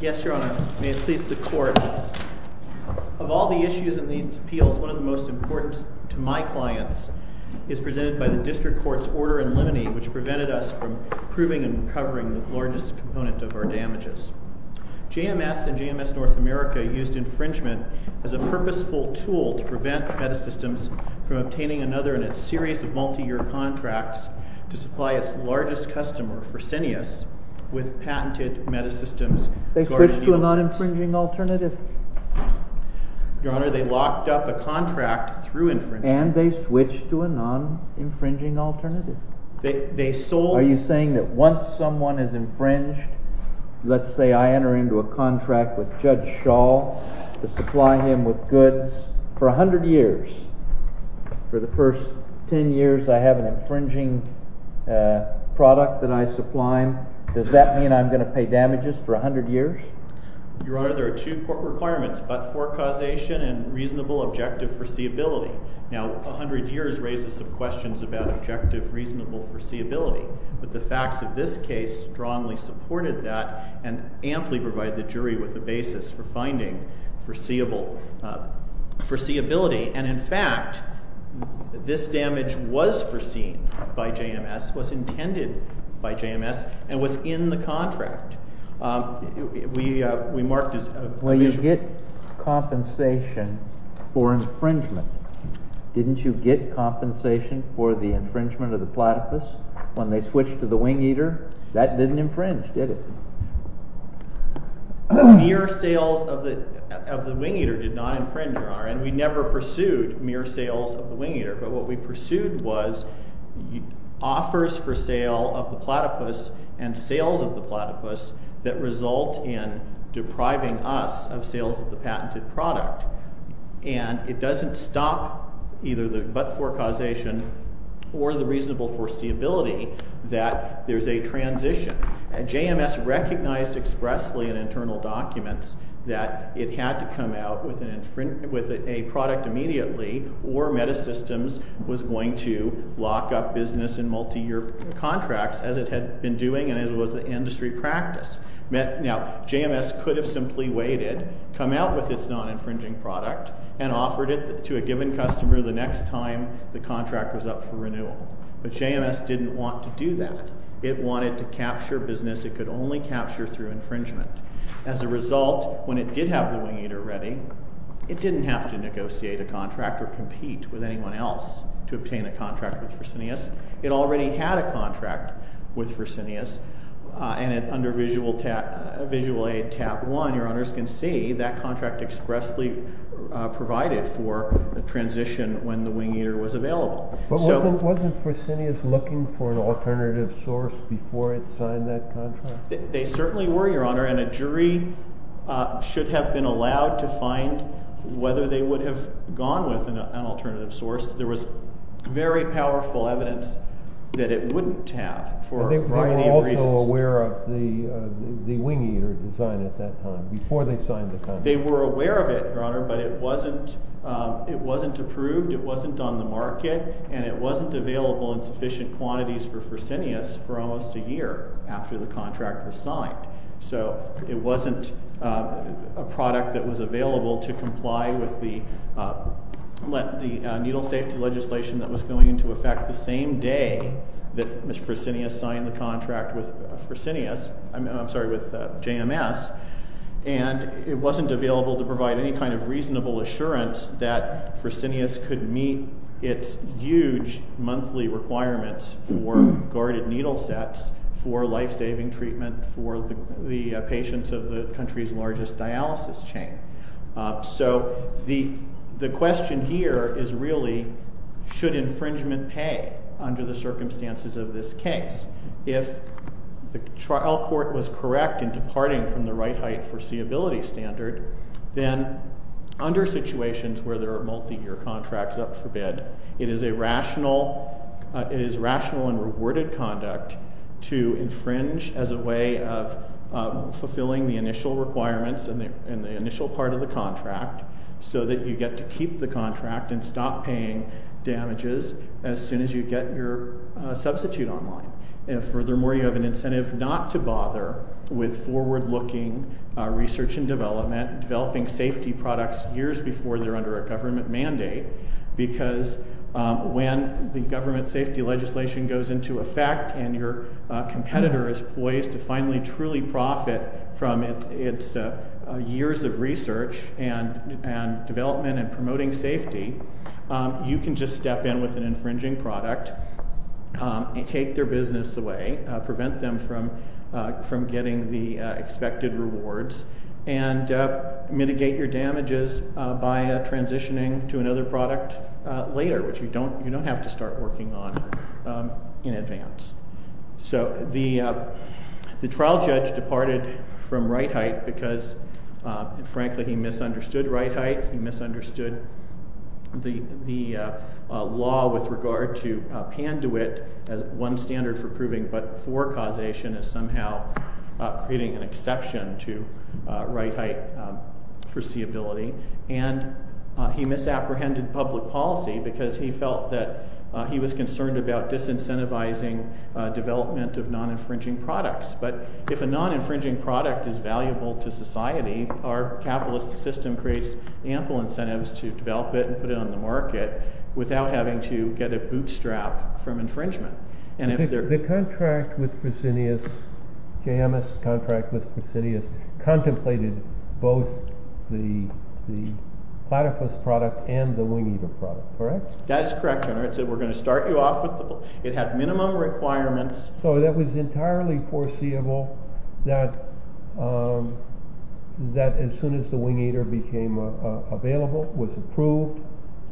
Yes, Your Honor. May it please the Court. Of all the issues in these appeals, one of the most important to my clients is presented by the District Court's order in limine, which prevented us from proving and covering the largest component of our damages. JMS and JMS North America used infringement as a purposeful tool to prevent Medisystems from obtaining another in a series of multi-year contracts to supply its largest customer, Fresenius, with patented Medisystems. They switched to a non-infringing alternative. Your Honor, they locked up a contract through infringement. And they switched to a non-infringing alternative. Are you saying that once someone is infringed, let's say I enter into a contract with Judge Schall to supply him with goods for 100 years. For the first 10 years, I have an infringing product that I supply him. Does that mean I'm going to pay damages for 100 years? Your Honor, there are two court requirements, but for causation and reasonable objective foreseeability. Now, 100 years raises some questions about objective reasonable foreseeability. But the facts of this case strongly supported that and amply provide the jury with a basis for finding foreseeability. And in fact, this damage was foreseen by JMS, was intended by JMS, and was in the contract. We marked as a visual. Well, you get compensation for infringement. Didn't you get compensation for the infringement of the platypus when they switched to the wing eater? That didn't infringe, did it? Mere sales of the wing eater did not infringe, Your Honor. And we never pursued mere sales of the wing eater. But what we pursued was offers for sale of the platypus and sales of the platypus that result in depriving us of sales of the patented product. And it doesn't stop either the but-for causation or the reasonable foreseeability that there's a transition. JMS recognized expressly in internal documents that it had to come out with a product immediately or Metasystems was going to lock up business in multi-year contracts as it had been doing and as it was an industry practice. Now, JMS could have simply waited, come out with its non-infringing product, and offered it to a given customer the next time the contract was up for renewal. But JMS didn't want to do that. It wanted to capture business it could only capture through infringement. As a result, when it did have the wing eater ready, it didn't have to negotiate a contract or compete with anyone else to obtain a contract with Fresenius. It already had a contract with Fresenius, and under visual aid tab one, Your Honors, can see that contract expressly provided for the transition when the wing eater was available. But wasn't Fresenius looking for an alternative source before it signed that contract? They certainly were, Your Honor, and a jury should have been allowed to find whether they would have gone with an alternative source. There was very powerful evidence that it wouldn't have for a variety of reasons. They were also aware of the wing eater design at that time, before they signed the contract. They were aware of it, Your Honor, but it wasn't approved, it wasn't on the market, and it wasn't available in sufficient quantities for Fresenius for almost a year after the contract was signed. So it wasn't a product that was available to comply with the needle safety legislation that was going into effect the same day that Mr. Fresenius signed the kind of reasonable assurance that Fresenius could meet its huge monthly requirements for guarded needle sets, for life-saving treatment for the patients of the country's largest dialysis chain. So the question here is really, should infringement pay under the circumstances of this case? If the trial court was correct in departing from the right height foreseeability standard, then under situations where there are multi-year contracts up for bid, it is rational and rewarded conduct to infringe as a way of fulfilling the initial requirements in the initial part of the contract so that you get to keep the contract and stop paying damages as soon as you get your substitute online. Furthermore, you have an incentive not to bother with forward-looking research and development, developing safety products years before they're under a government mandate, because when the government safety legislation goes into effect and your competitor is poised to finally truly profit from its years of research and development and promoting safety, you can just step in with an infringing product and take their business away, prevent them from getting the expected rewards, and mitigate your damages by transitioning to another product later, which you don't have to start working on in advance. So the trial judge departed from right height because, frankly, he misunderstood right height, he misunderstood the law with regard to Panduit as one standard for proving but-for causation as somehow creating an exception to right height foreseeability, and he misapprehended public policy because he felt that he was concerned about disincentivizing development of non-infringing products. But if a non-infringing product is valuable to society, our capitalist system creates ample incentives to develop it and put it on the market without having to get a bootstrap from infringement. And if there— The contract with Fresenius, J.M.S. contract with Fresenius, contemplated both the platypus product and the wing-eater product, correct? That is correct, Your Honor. It said we're going to start you off with the—it had minimum requirements— So that was entirely foreseeable that as soon as the wing-eater became available, was approved,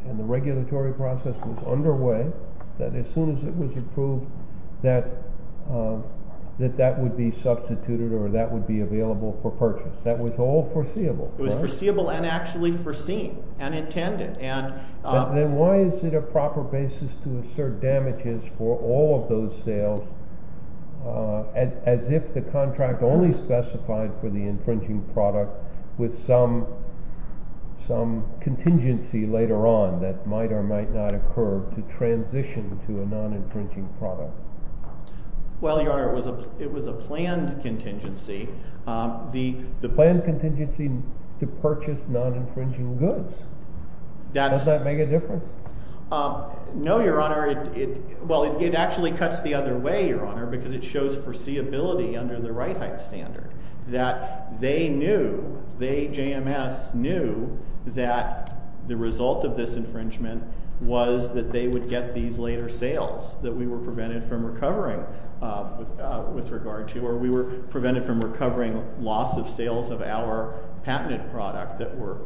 and the regulatory process was underway, that as soon as it was approved that that would be substituted or that would be available for purchase. That was all foreseeable, correct? It was foreseeable and actually foreseen and intended. Then why is it a proper basis to assert damages for all of those sales as if the contract only specified for the infringing product with some contingency later on that might or might not occur to transition to a non-infringing product? Well, Your Honor, it was a planned contingency. Planned contingency to purchase non-infringing goods. Does that make a difference? No, Your Honor. Well, it actually cuts the other way, Your Honor, because it shows foreseeability under the right-type standard that they knew, they, J.M.S., knew that the result of this infringement was that they would get these later sales that we were prevented from recovering with regard to or we were prevented from recovering loss of sales of our patented product that were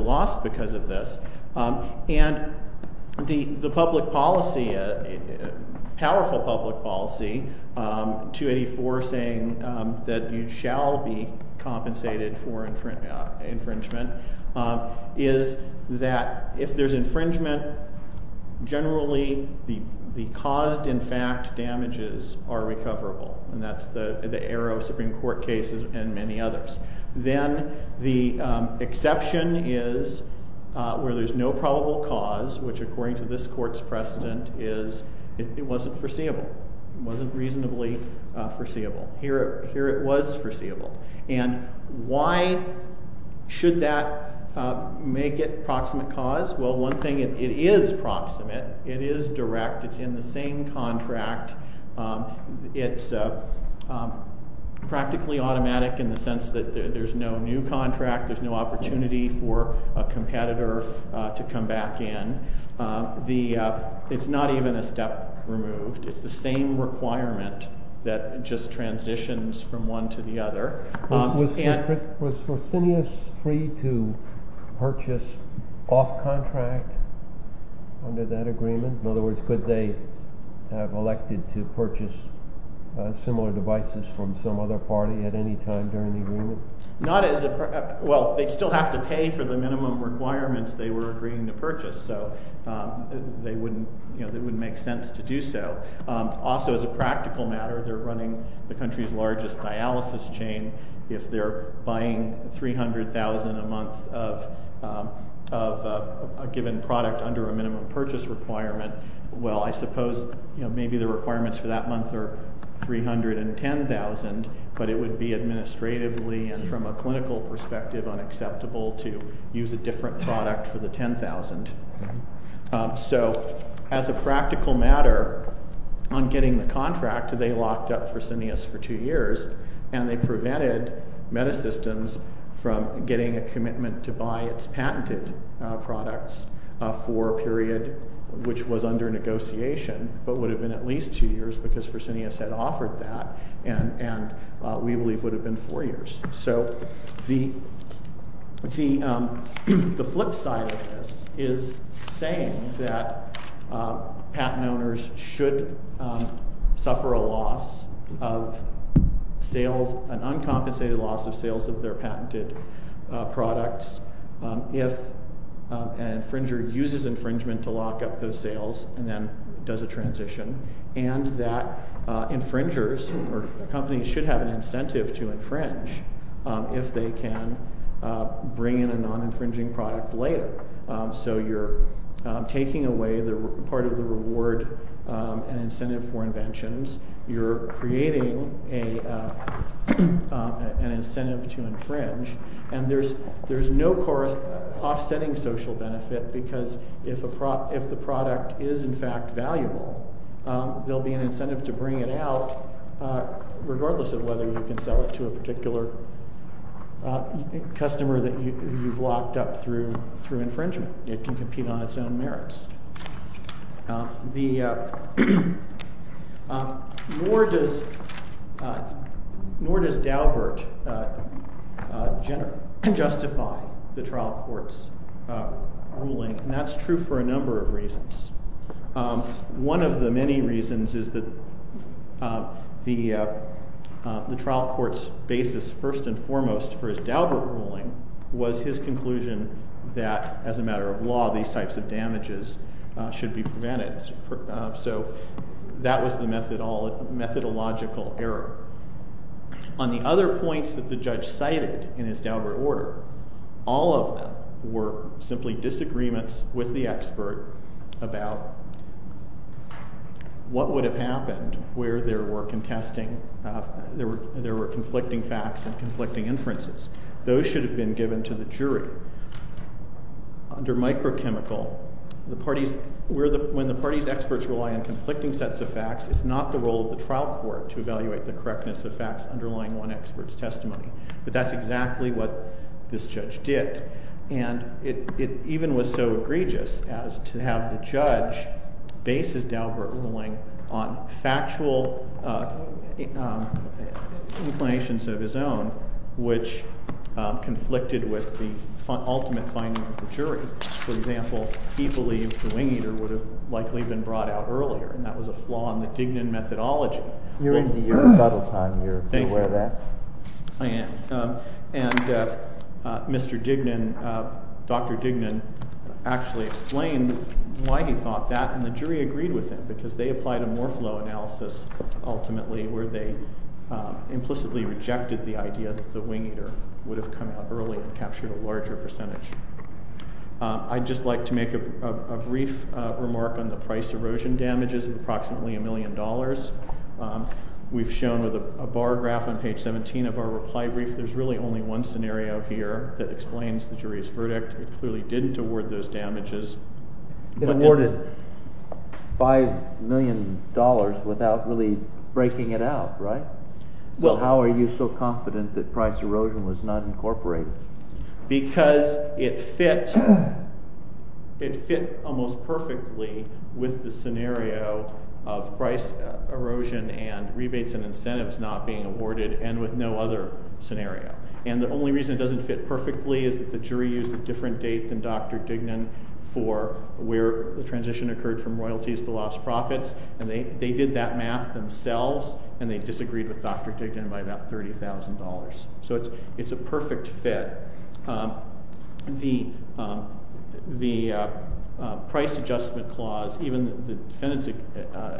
lost because of this. And the public policy, powerful public policy, 284 saying that you shall be compensated for infringement, is that if there's infringement, generally the caused, in fact, damages are recoverable. And that's the arrow of Supreme Court cases and many others. Then the exception is where there's no probable cause, which, according to this Court's precedent, is it wasn't foreseeable. It wasn't reasonably foreseeable. Here it was foreseeable. And why should that make it proximate cause? Well, one thing, it is proximate. It is direct. It's in the same contract. It's practically automatic in the sense that there's no new contract. There's no opportunity for a competitor to come back in. It's not even a step removed. It's the same requirement that just transitions from one to the other. Was Fresenius free to purchase off-contract under that agreement? In other words, could they have elected to purchase similar devices from some other party at any time during the agreement? Well, they'd still have to pay for the minimum requirements they were agreeing to purchase, so it wouldn't make sense to do so. Also, as a practical matter, they're running the country's largest dialysis chain. If they're buying $300,000 a month of a given product under a minimum purchase requirement, well, I suppose maybe the requirements for that month are $310,000, but it would be administratively and from a clinical perspective unacceptable to use a different product for the $10,000. So as a practical matter, on getting the contract, they locked up Fresenius for two years, and they prevented Metasystems from getting a commitment to buy its patented products for a period which was under negotiation, but would have been at least two years because Fresenius had offered that, and we believe would have been four years. So the flip side of this is saying that patent owners should suffer an uncompensated loss of sales of their patented products if an infringer uses infringement to lock up those sales and then does a transition, and that infringers or companies should have an incentive to infringe if they can bring in a non-infringing product later. So you're taking away part of the reward and incentive for inventions. You're creating an incentive to infringe, and there's no offsetting social benefit because if the product is in fact valuable, there will be an incentive to bring it out, regardless of whether you can sell it to a particular customer that you've locked up through infringement. It can compete on its own merits. Nor does Daubert justify the trial court's ruling, and that's true for a number of reasons. One of the many reasons is that the trial court's basis first and foremost for his Daubert ruling was his conclusion that as a matter of law, these types of damages should be prevented. So that was the methodological error. On the other points that the judge cited in his Daubert order, all of them were simply disagreements with the expert about what would have happened where there were conflicting facts and conflicting inferences. Those should have been given to the jury. Under microchemical, when the party's experts rely on conflicting sets of facts, it's not the role of the trial court to evaluate the correctness of facts underlying one expert's testimony. But that's exactly what this judge did. And it even was so egregious as to have the judge base his Daubert ruling on factual inclinations of his own, which conflicted with the ultimate finding of the jury. For example, he believed the wing-eater would have likely been brought out earlier, and that was a flaw in the Dignan methodology. You're in the Europe battle time. You're aware of that. Thank you. I am. And Mr. Dignan, Dr. Dignan, actually explained why he thought that, and the jury agreed with him because they applied a more flow analysis, ultimately, where they implicitly rejected the idea that the wing-eater would have come out early and captured a larger percentage. I'd just like to make a brief remark on the price erosion damages of approximately $1 million. We've shown a bar graph on page 17 of our reply brief. There's really only one scenario here that explains the jury's verdict. It clearly didn't award those damages. It awarded $5 million without really breaking it out, right? How are you so confident that price erosion was not incorporated? Because it fit almost perfectly with the scenario of price erosion and rebates and incentives not being awarded, and with no other scenario. And the only reason it doesn't fit perfectly is that the jury used a different date than Dr. Dignan for where the transition occurred from royalties to lost profits, and they did that math themselves, and they disagreed with Dr. Dignan by about $30,000. So it's a perfect fit. The price adjustment clause, even the defendant's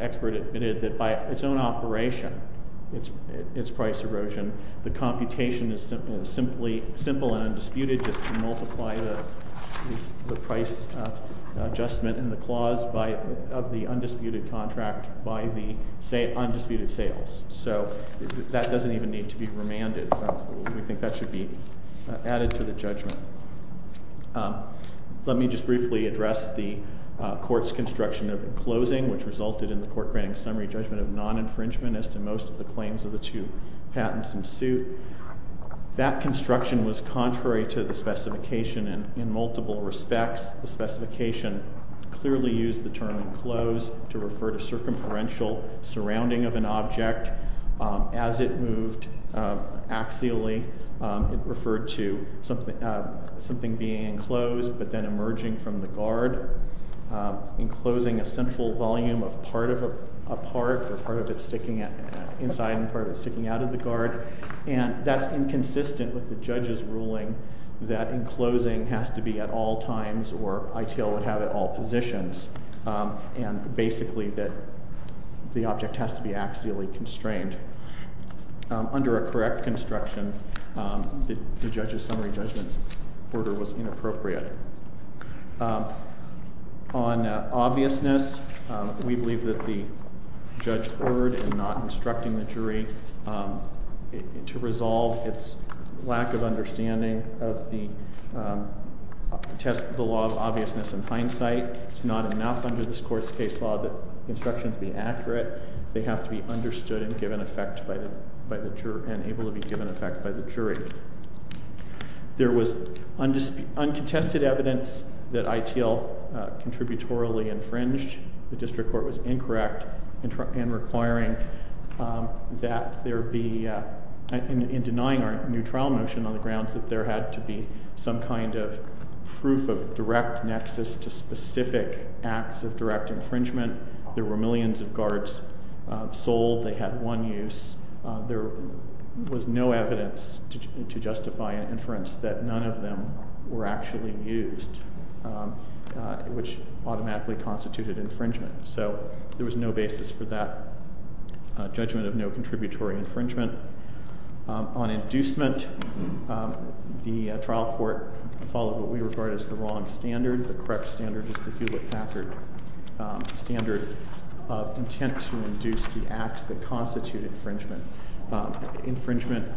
expert admitted that by its own operation, its price erosion, the computation is simply simple and undisputed just to multiply the price adjustment in the clause of the undisputed contract by the undisputed sales. So that doesn't even need to be remanded. We think that should be added to the judgment. Let me just briefly address the court's construction of a closing, which resulted in the court granting summary judgment of non-infringement as to most of the claims of the two patents in suit. That construction was contrary to the specification in multiple respects. The specification clearly used the term enclosed to refer to circumferential surrounding of an object. As it moved axially, it referred to something being enclosed but then emerging from the guard. Enclosing a central volume of part of a part or part of it sticking inside and part of it sticking out of the guard. And that's inconsistent with the judge's ruling that enclosing has to be at all times or ITL would have at all positions, and basically that the object has to be axially constrained. Under a correct construction, the judge's summary judgment order was inappropriate. On obviousness, we believe that the judge erred in not instructing the jury to resolve its lack of understanding of the test of the law of obviousness in hindsight. It's not enough under this court's case law that instructions be accurate. They have to be understood and given effect by the juror and able to be given effect by the jury. There was uncontested evidence that ITL contributorily infringed. The district court was incorrect in requiring that there be, in denying our new trial motion on the grounds that there had to be some kind of proof of direct nexus to specific acts of direct infringement. There were millions of guards sold. They had one use. There was no evidence to justify an inference that none of them were actually used, which automatically constituted infringement. So there was no basis for that judgment of no contributory infringement. On inducement, the trial court followed what we regard as the wrong standard. The correct standard is the Hewlett-Packard standard of intent to induce the acts that constitute infringement. Infringement,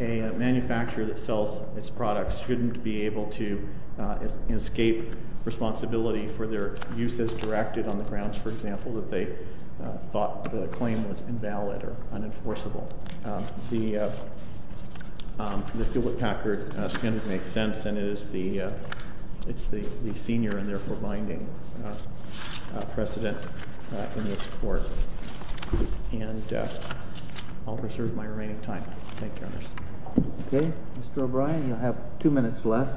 a manufacturer that sells its products shouldn't be able to escape responsibility for their uses directed on the grounds, for example, that they thought the claim was invalid or unenforceable. So the Hewlett-Packard standard makes sense, and it's the senior and therefore binding precedent in this court. And I'll reserve my remaining time. Thank you, Your Honor. OK. Mr. O'Brien, you'll have two minutes left.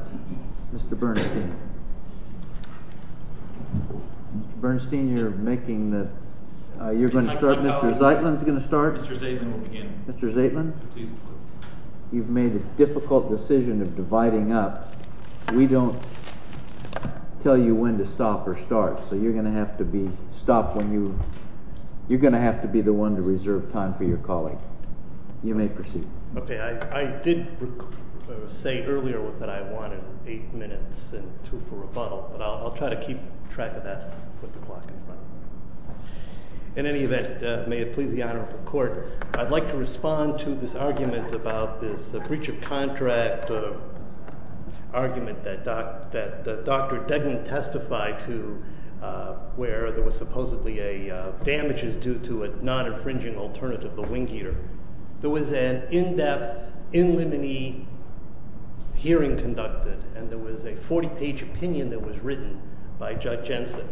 Mr. Bernstein. Mr. Bernstein, you're going to start. Mr. Zeitlin's going to start. Mr. Zeitlin will begin. Mr. Zeitlin, you've made a difficult decision of dividing up. We don't tell you when to stop or start, so you're going to have to be stopped when you're going to have to be the one to reserve time for your colleague. You may proceed. OK. I did say earlier that I wanted eight minutes for rebuttal, but I'll try to keep track of that with the clock in front of me. In any event, may it please the Honorable Court, I'd like to respond to this argument about this breach of contract argument that Dr. Degnan testified to, where there was supposedly a damages due to a non-infringing alternative, the wing eater. There was an in-depth, in limine hearing conducted, and there was a 40-page opinion that was written by Judge Jensen.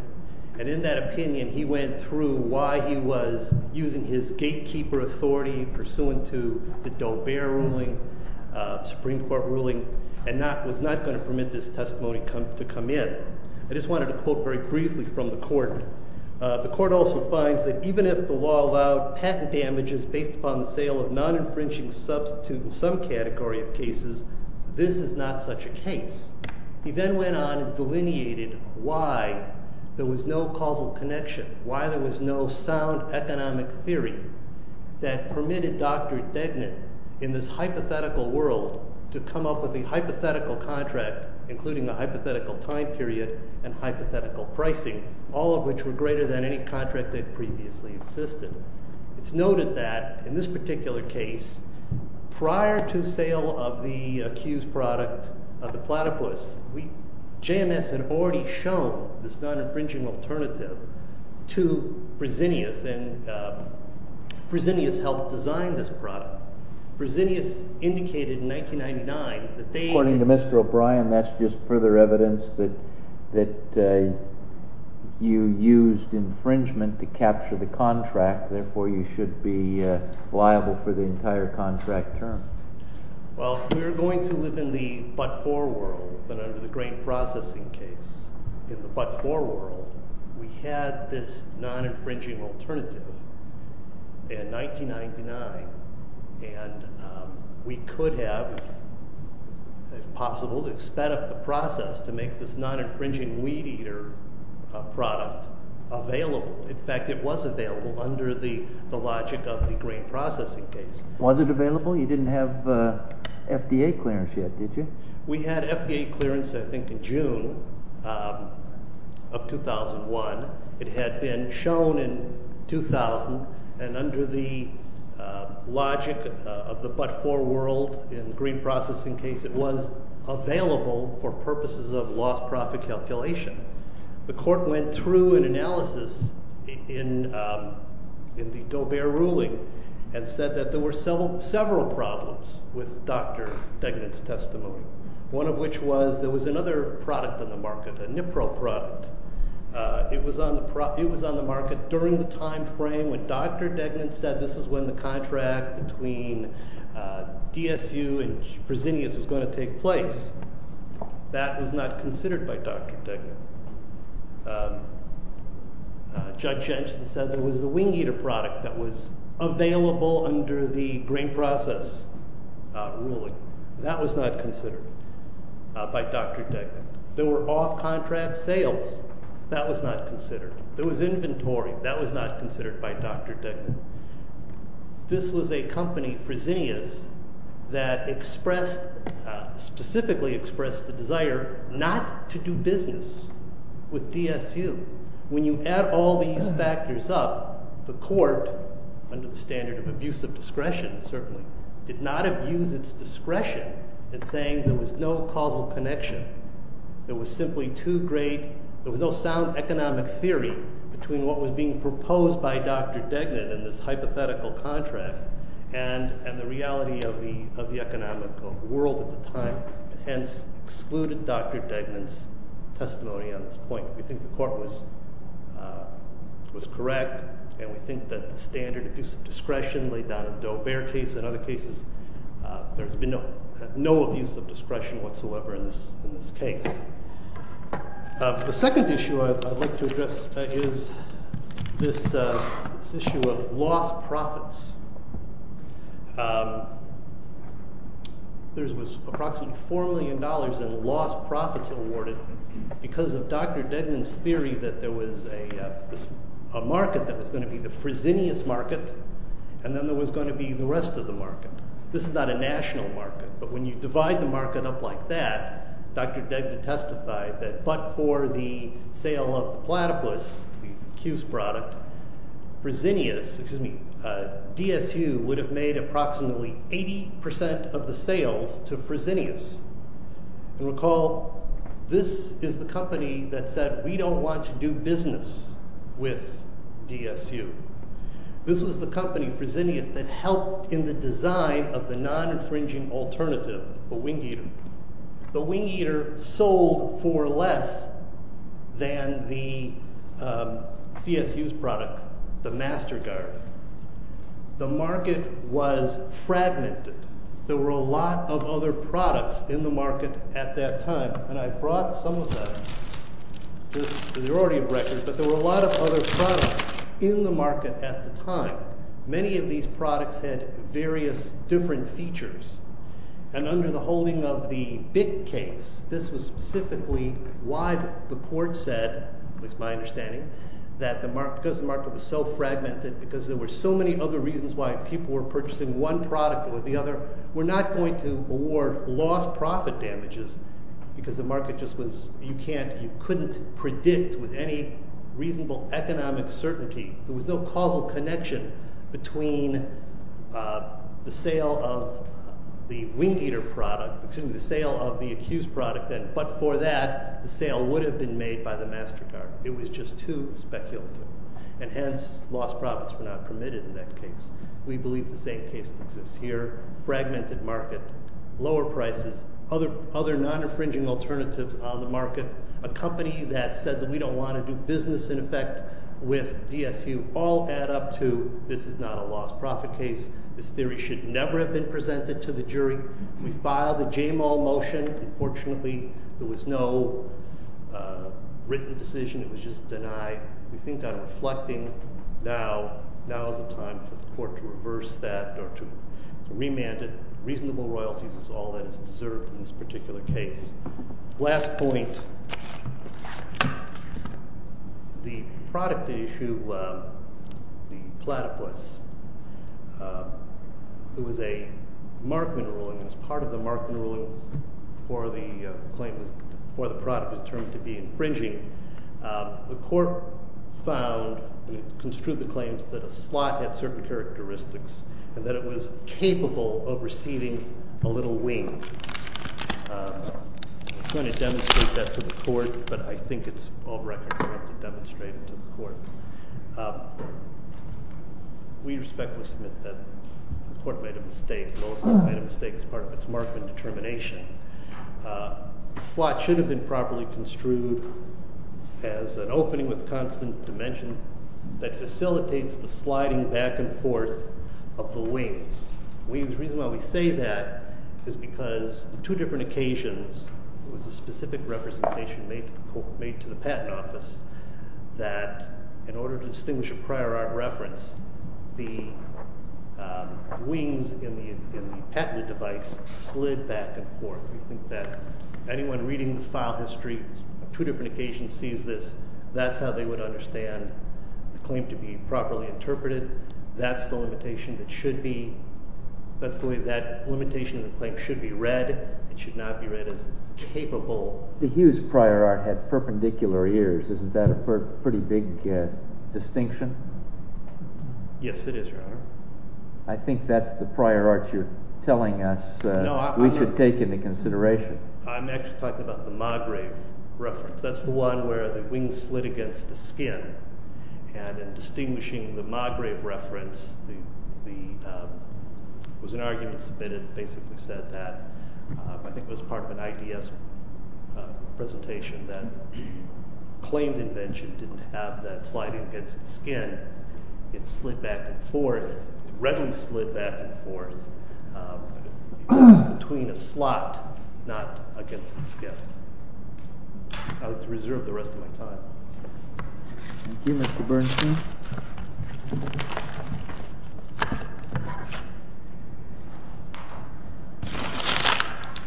And in that opinion, he went through why he was using his gatekeeper authority pursuant to the Daubert ruling, Supreme Court ruling, and was not going to permit this testimony to come in. I just wanted to quote very briefly from the court. The court also finds that even if the law allowed patent damages based upon the sale of non-infringing substitute in some category of cases, this is not such a case. He then went on and delineated why there was no causal connection, why there was no sound economic theory that permitted Dr. Degnan in this hypothetical world to come up with a hypothetical contract, including a hypothetical time period and hypothetical pricing, all of which were greater than any contract that previously existed. It's noted that in this particular case, prior to sale of the accused product of the platypus, JMS had already shown this non-infringing alternative to Fresenius, and Fresenius helped design this product. Fresenius indicated in 1999 that they— Therefore, you should be liable for the entire contract term. Well, we're going to live in the but-for world, but under the grain processing case. In the but-for world, we had this non-infringing alternative in 1999, and we could have, if possible, sped up the process to make this non-infringing weed eater product available. In fact, it was available under the logic of the grain processing case. Was it available? You didn't have FDA clearance yet, did you? We had FDA clearance, I think, in June of 2001. It had been shown in 2000, and under the logic of the but-for world in the grain processing case, it was available for purposes of lost profit calculation. The court went through an analysis in the Daubert ruling and said that there were several problems with Dr. Degnan's testimony, one of which was there was another product on the market, a Nipro product. It was on the market during the time frame when Dr. Degnan said this is when the contract between DSU and Fresenius was going to take place. That was not considered by Dr. Degnan. Judge Jensen said there was a wing eater product that was available under the grain process ruling. That was not considered by Dr. Degnan. There were off-contract sales. That was not considered. There was inventory. That was not considered by Dr. Degnan. This was a company, Fresenius, that specifically expressed the desire not to do business with DSU. When you add all these factors up, the court, under the standard of abusive discretion, certainly, did not abuse its discretion in saying there was no causal connection. There was no sound economic theory between what was being proposed by Dr. Degnan in this hypothetical contract and the reality of the economic world at the time. Hence, excluded Dr. Degnan's testimony on this point. We think the court was correct. And we think that the standard abusive discretion laid down in the Doe-Bear case and other cases, there has been no abuse of discretion whatsoever in this case. The second issue I'd like to address is this issue of lost profits. There was approximately $4 million in lost profits awarded because of Dr. Degnan's theory that there was a market that was going to be the Fresenius market and then there was going to be the rest of the market. This is not a national market. But when you divide the market up like that, Dr. Degnan testified that but for the sale of the platypus, the Q's product, DSU would have made approximately 80% of the sales to Fresenius. And recall, this is the company that said we don't want to do business with DSU. This was the company, Fresenius, that helped in the design of the non-infringing alternative, the Wing Eater. The Wing Eater sold for less than the DSU's product, the Master Guard. The market was fragmented. There were a lot of other products in the market at that time. And I brought some of them. They're already in record. But there were a lot of other products in the market at the time. Many of these products had various different features. And under the holding of the BIC case, this was specifically why the court said, at least my understanding, that because the market was so fragmented, because there were so many other reasons why people were purchasing one product or the other, we're not going to award lost profit damages because the market just was, you can't, you couldn't predict with any reasonable economic certainty. There was no causal connection between the sale of the Wing Eater product, excuse me, the sale of the Q's product, but for that, the sale would have been made by the Master Guard. It was just too speculative. And hence, lost profits were not permitted in that case. We believe the same case exists here. Fragmented market. Lower prices. Other non-infringing alternatives on the market. A company that said that we don't want to do business in effect with DSU. All add up to this is not a lost profit case. This theory should never have been presented to the jury. We filed a JMO motion. Unfortunately, there was no written decision. It was just denied. We think I'm reflecting now. Now is the time for the court to reverse that or to remand it. Reasonable royalties is all that is deserved in this particular case. Last point. The product issue, the platypus, it was a Markman ruling. It was part of the Markman ruling for the claim, for the product determined to be infringing. The court found and construed the claims that a slot had certain characteristics and that it was capable of receiving a little wing. I'm going to demonstrate that to the court, but I think it's all record to demonstrate it to the court. We respectfully submit that the court made a mistake. Most of it made a mistake as part of its Markman determination. The slot should have been properly construed as an opening with constant dimensions that facilitates the sliding back and forth of the wings. The reason why we say that is because on two different occasions, it was a specific representation made to the patent office that in order to distinguish a prior art reference, the wings in the patented device slid back and forth. We think that anyone reading the file history on two different occasions sees this. That's how they would understand the claim to be properly interpreted. That's the limitation that should be read. It should not be read as capable. The Hughes prior art had perpendicular ears. Isn't that a pretty big distinction? Yes, it is, Your Honor. I think that's the prior art you're telling us we should take into consideration. I'm actually talking about the Magrave reference. That's the one where the wings slid against the skin. In distinguishing the Magrave reference, there was an argument submitted that basically said that, I think it was part of an IDS presentation, that claimed invention didn't have that sliding against the skin. It slid back and forth. It readily slid back and forth. It was between a slot, not against the skin. I would reserve the rest of my time. Thank you, Mr. Bernstein.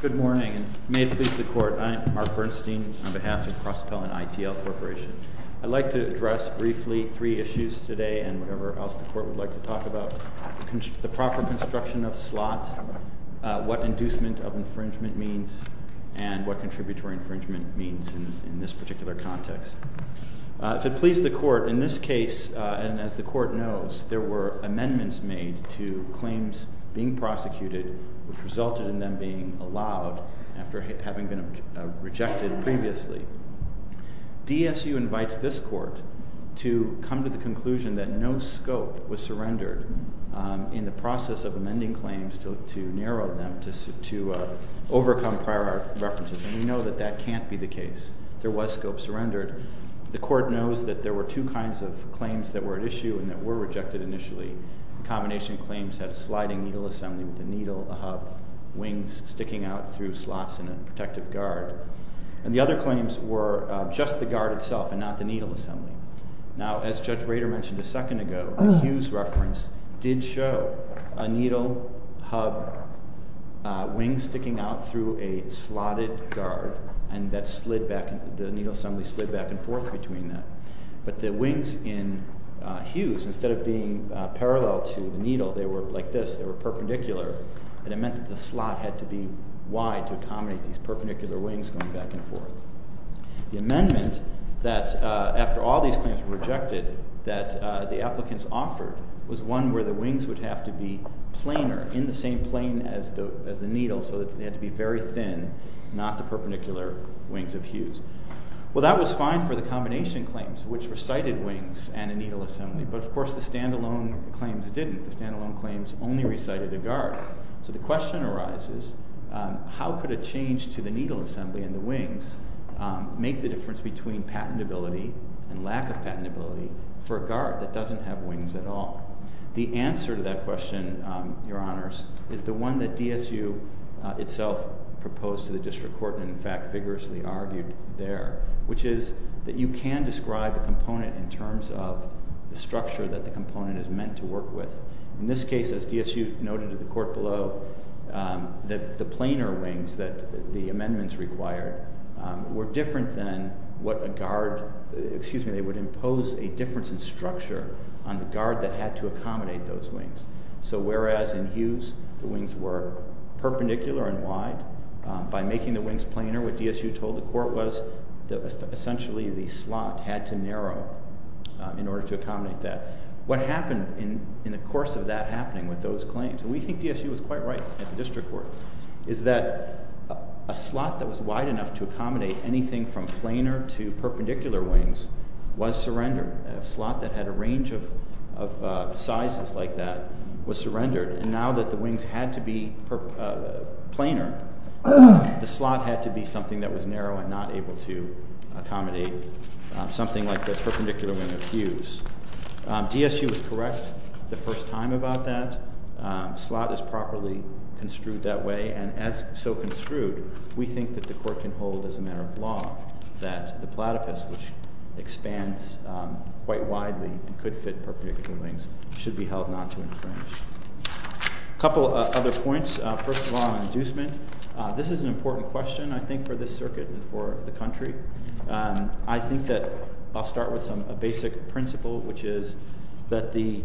Good morning, and may it please the Court, I'm Mark Bernstein on behalf of Crosspell and ITL Corporation. I'd like to address briefly three issues today and whatever else the Court would like to talk about. The proper construction of slot, what inducement of infringement means, and what contributory infringement means in this particular context. If it please the Court, in this case, and as the Court knows, there were amendments made to claims being prosecuted which resulted in them being allowed after having been rejected previously. DSU invites this Court to come to the conclusion that no scope was surrendered in the process of amending claims to narrow them to overcome prior references, and we know that that can't be the case. There was scope surrendered. The Court knows that there were two kinds of claims that were at issue and that were rejected initially. The combination of claims had a sliding needle assembly with a needle, a hub, wings sticking out through slots in a protective guard. And the other claims were just the guard itself and not the needle assembly. Now, as Judge Rader mentioned a second ago, the Hughes reference did show a needle hub wing sticking out through a slotted guard, and the needle assembly slid back and forth between that. They were perpendicular, and it meant that the slot had to be wide to accommodate these perpendicular wings going back and forth. The amendment that, after all these claims were rejected, that the applicants offered was one where the wings would have to be planar, in the same plane as the needle, so that they had to be very thin, not the perpendicular wings of Hughes. Well, that was fine for the combination claims, which were sighted wings and a needle assembly, but, of course, the stand-alone claims didn't. The stand-alone claims only recited a guard. So the question arises, how could a change to the needle assembly and the wings make the difference between patentability and lack of patentability for a guard that doesn't have wings at all? The answer to that question, Your Honors, is the one that DSU itself proposed to the District Court and, in fact, vigorously argued there, which is that you can describe a component in terms of the structure that the component is meant to work with. In this case, as DSU noted to the Court below, the planar wings that the amendments required were different than what a guard— excuse me, they would impose a difference in structure on the guard that had to accommodate those wings. So whereas in Hughes the wings were perpendicular and wide, by making the wings planar, what DSU told the Court was that essentially the slot had to narrow in order to accommodate that. What happened in the course of that happening with those claims— and we think DSU was quite right at the District Court— is that a slot that was wide enough to accommodate anything from planar to perpendicular wings was surrendered. A slot that had a range of sizes like that was surrendered. And now that the wings had to be planar, the slot had to be something that was narrow and not able to accommodate something like the perpendicular wing of Hughes. DSU was correct the first time about that. The slot is properly construed that way. And as so construed, we think that the Court can hold as a matter of law that the platypus, which expands quite widely and could fit perpendicular wings, should be held not to infringe. A couple of other points. First of all, on inducement. This is an important question, I think, for this circuit and for the country. I think that I'll start with a basic principle, which is that the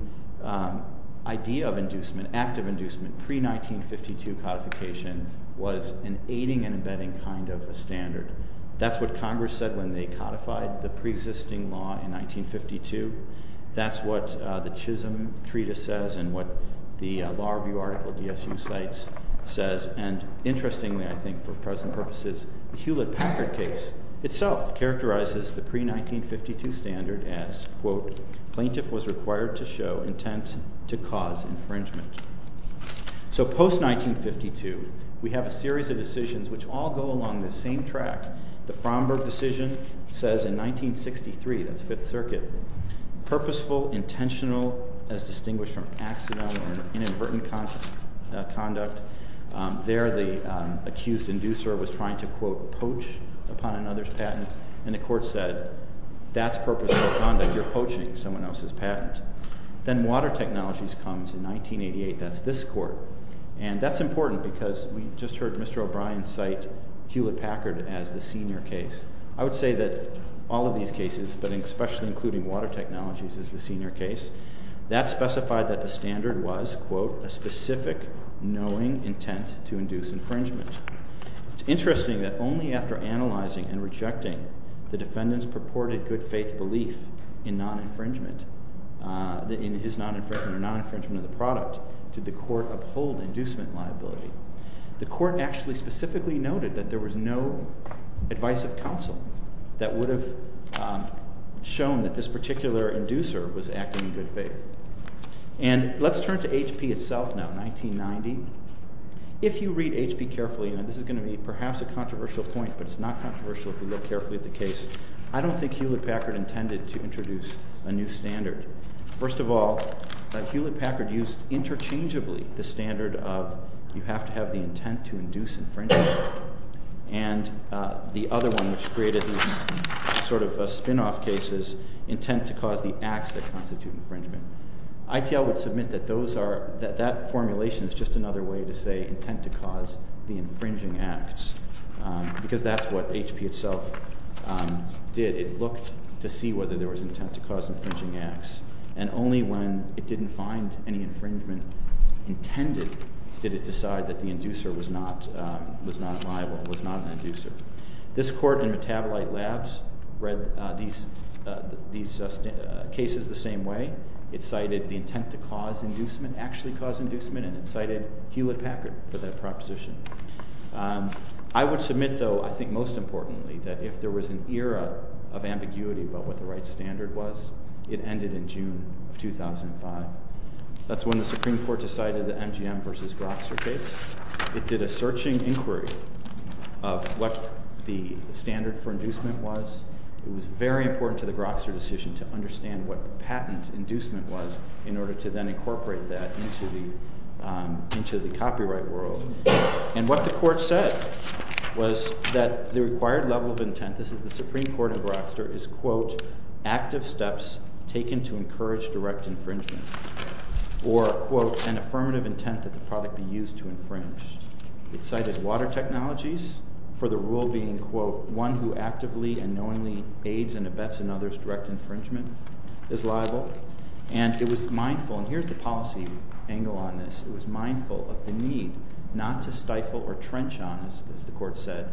idea of active inducement pre-1952 codification was an aiding and abetting kind of a standard. That's what Congress said when they codified the pre-existing law in 1952. That's what the Chisholm Treatise says and what the Law Review article DSU cites says. And interestingly, I think for present purposes, the Hewlett-Packard case itself characterizes the pre-1952 standard as, quote, plaintiff was required to show intent to cause infringement. So post-1952, we have a series of decisions which all go along this same track. The Framberg decision says in 1963, that's Fifth Circuit, purposeful, intentional, as distinguished from accidental or inadvertent conduct. There the accused inducer was trying to, quote, poach upon another's patent. And the court said, that's purposeful conduct. You're poaching someone else's patent. Then water technologies comes in 1988. That's this court. And that's important because we just heard Mr. O'Brien cite Hewlett-Packard as the senior case. I would say that all of these cases, but especially including water technologies as the senior case, that specified that the standard was, quote, a specific, knowing intent to induce infringement. It's interesting that only after analyzing and rejecting the defendant's purported good faith belief in non-infringement, in his non-infringement or non-infringement of the product, did the court uphold inducement liability. The court actually specifically noted that there was no advice of counsel that would have shown that this particular inducer was acting in good faith. And let's turn to HP itself now, 1990. If you read HP carefully, and this is going to be perhaps a controversial point, but it's not controversial if you look carefully at the case, I don't think Hewlett-Packard intended to introduce a new standard. First of all, Hewlett-Packard used interchangeably the standard of you have to have the intent to induce infringement, and the other one, which created these sort of spin-off cases, intent to cause the acts that constitute infringement. ITL would submit that that formulation is just another way to say intent to cause the infringing acts, because that's what HP itself did. It looked to see whether there was intent to cause infringing acts, and only when it didn't find any infringement intended did it decide that the inducer was not liable, was not an inducer. This court in Metabolite Labs read these cases the same way. It cited the intent to cause inducement, actually cause inducement, and it cited Hewlett-Packard for that proposition. I would submit, though, I think most importantly, that if there was an era of ambiguity about what the right standard was, it ended in June of 2005. That's when the Supreme Court decided the MGM v. Grokster case. It did a searching inquiry of what the standard for inducement was. It was very important to the Grokster decision to understand what patent inducement was in order to then incorporate that into the copyright world. And what the court said was that the required level of intent, this is the Supreme Court in Grokster, is, quote, active steps taken to encourage direct infringement, or, quote, an affirmative intent that the product be used to infringe. It cited water technologies for the rule being, quote, one who actively and knowingly aids and abets another's direct infringement is liable. And it was mindful, and here's the policy angle on this, it was mindful of the need not to stifle or trench on, as the court said,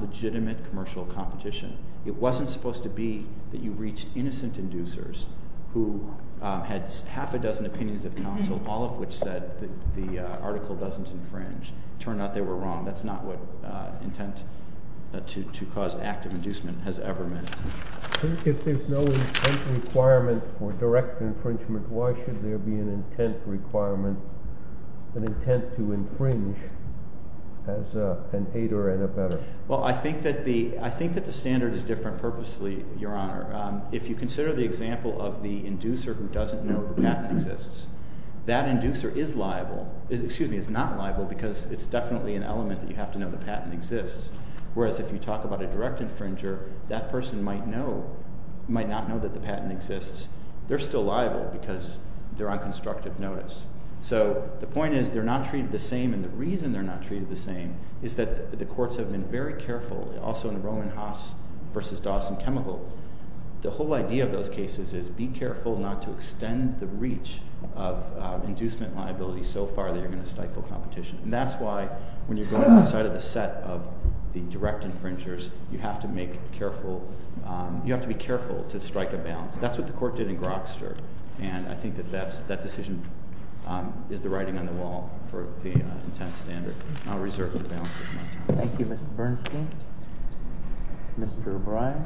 legitimate commercial competition. It wasn't supposed to be that you reached innocent inducers who had half a dozen opinions of counsel, all of which said that the article doesn't infringe. It turned out they were wrong. That's not what intent to cause active inducement has ever meant. If there's no intent requirement for direct infringement, why should there be an intent requirement, an intent to infringe as an aider and abetter? Well, I think that the standard is different purposely, Your Honor. If you consider the example of the inducer who doesn't know the patent exists, that inducer is liable, excuse me, is not liable because it's definitely an element that you have to know the patent exists, whereas if you talk about a direct infringer, that person might not know that the patent exists. They're still liable because they're on constructive notice. So the point is they're not treated the same, and the reason they're not treated the same is that the courts have been very careful. Also in Roman Haas v. Dawson Chemical, the whole idea of those cases is be careful not to extend the reach of inducement liability so far that you're going to stifle competition, and that's why when you're going outside of the set of the direct infringers, you have to be careful to strike a balance. That's what the court did in Grokster, and I think that that decision is the writing on the wall for the intent standard. I'll reserve the balance at this time. Thank you, Mr. Bernstein. Mr. O'Brien.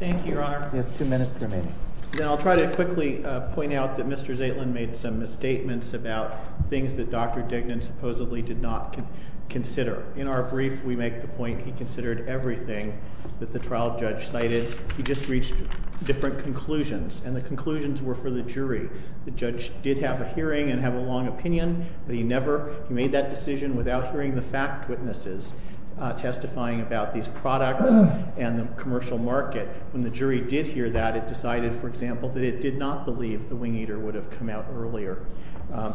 Thank you, Your Honor. You have two minutes remaining. Then I'll try to quickly point out that Mr. Zaitlin made some misstatements about things that Dr. Dignan supposedly did not consider. In our brief, we make the point he considered everything that the trial judge cited. He just reached different conclusions, and the conclusions were for the jury. The judge did have a hearing and have a long opinion, but he never made that decision without hearing the fact witnesses testifying about these products and the commercial market. When the jury did hear that, it decided, for example, that it did not believe the wing eater would have come out earlier,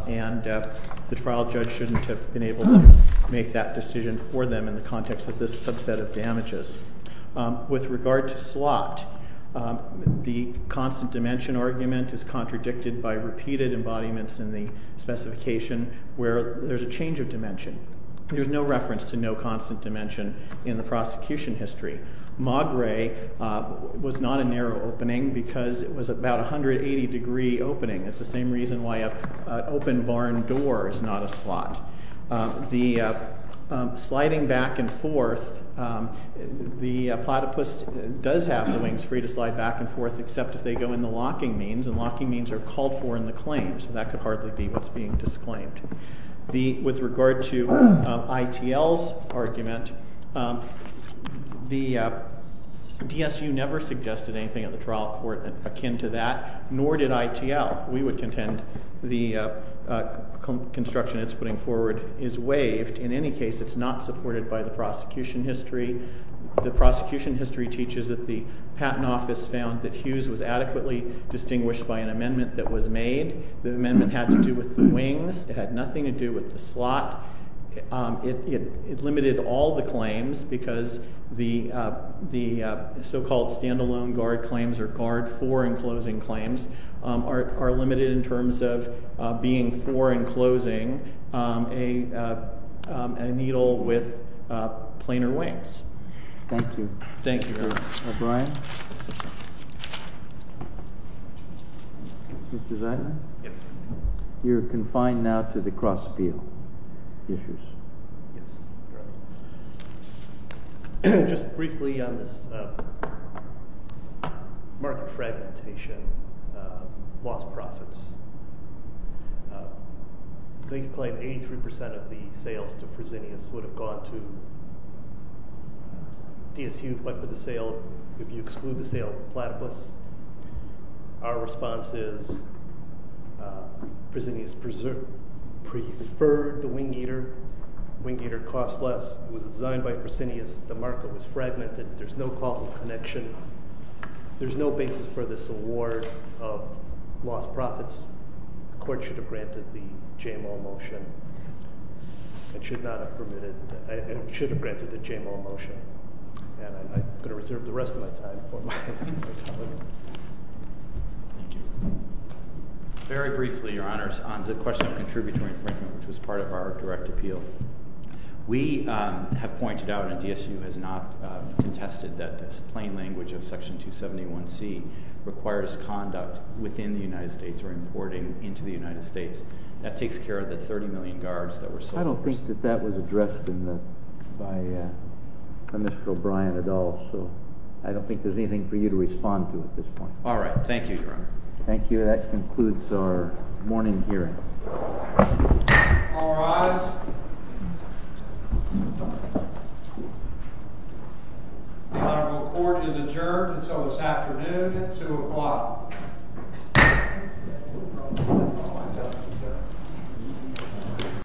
and the trial judge shouldn't have been able to make that decision for them in the context of this subset of damages. With regard to slot, the constant dimension argument is contradicted by repeated embodiments in the specification where there's a change of dimension. There's no reference to no constant dimension in the prosecution history. Magre was not a narrow opening because it was about a 180-degree opening. It's the same reason why an open barn door is not a slot. The sliding back and forth, the platypus does have the wings free to slide back and forth, except if they go in the locking means, and locking means are called for in the claims. That could hardly be what's being disclaimed. With regard to ITL's argument, the DSU never suggested anything at the trial court akin to that, nor did ITL. We would contend the construction it's putting forward is waived. In any case, it's not supported by the prosecution history. The prosecution history teaches that the Patent Office found that Hughes was adequately distinguished by an amendment that was made. The amendment had to do with the wings. It had nothing to do with the slot. It limited all the claims because the so-called stand-alone guard claims or guard-for-enclosing claims are limited in terms of being for-enclosing a needle with planar wings. Thank you. Thank you. O'Brien? Mr. Zeidman? Yes. You're confined now to the cross-appeal issues. Yes, correct. Just briefly on this market fragmentation, lost profits. They claim 83% of the sales to Presidnius would have gone to DSU, but if you exclude the sale to Platypus, our response is Presidnius preferred the wing eater. Wing eater costs less. It was designed by Presidnius. The market was fragmented. There's no causal connection. There's no basis for this award of lost profits. The court should have granted the JMO motion. It should not have permitted it. It should have granted the JMO motion. And I'm going to reserve the rest of my time for my colleague. Thank you. Very briefly, Your Honors, on the question of contributory infringement, which was part of our direct appeal. We have pointed out, and DSU has not contested, that this plain language of Section 271C requires conduct within the United States or importing into the United States. That takes care of the 30 million guards that were sold. I don't think that that was addressed by Mr. O'Brien at all, so I don't think there's anything for you to respond to at this point. All right. Thank you, Your Honor. Thank you. That concludes our morning hearing. All rise. The honorable court is adjourned until this afternoon at 2 o'clock.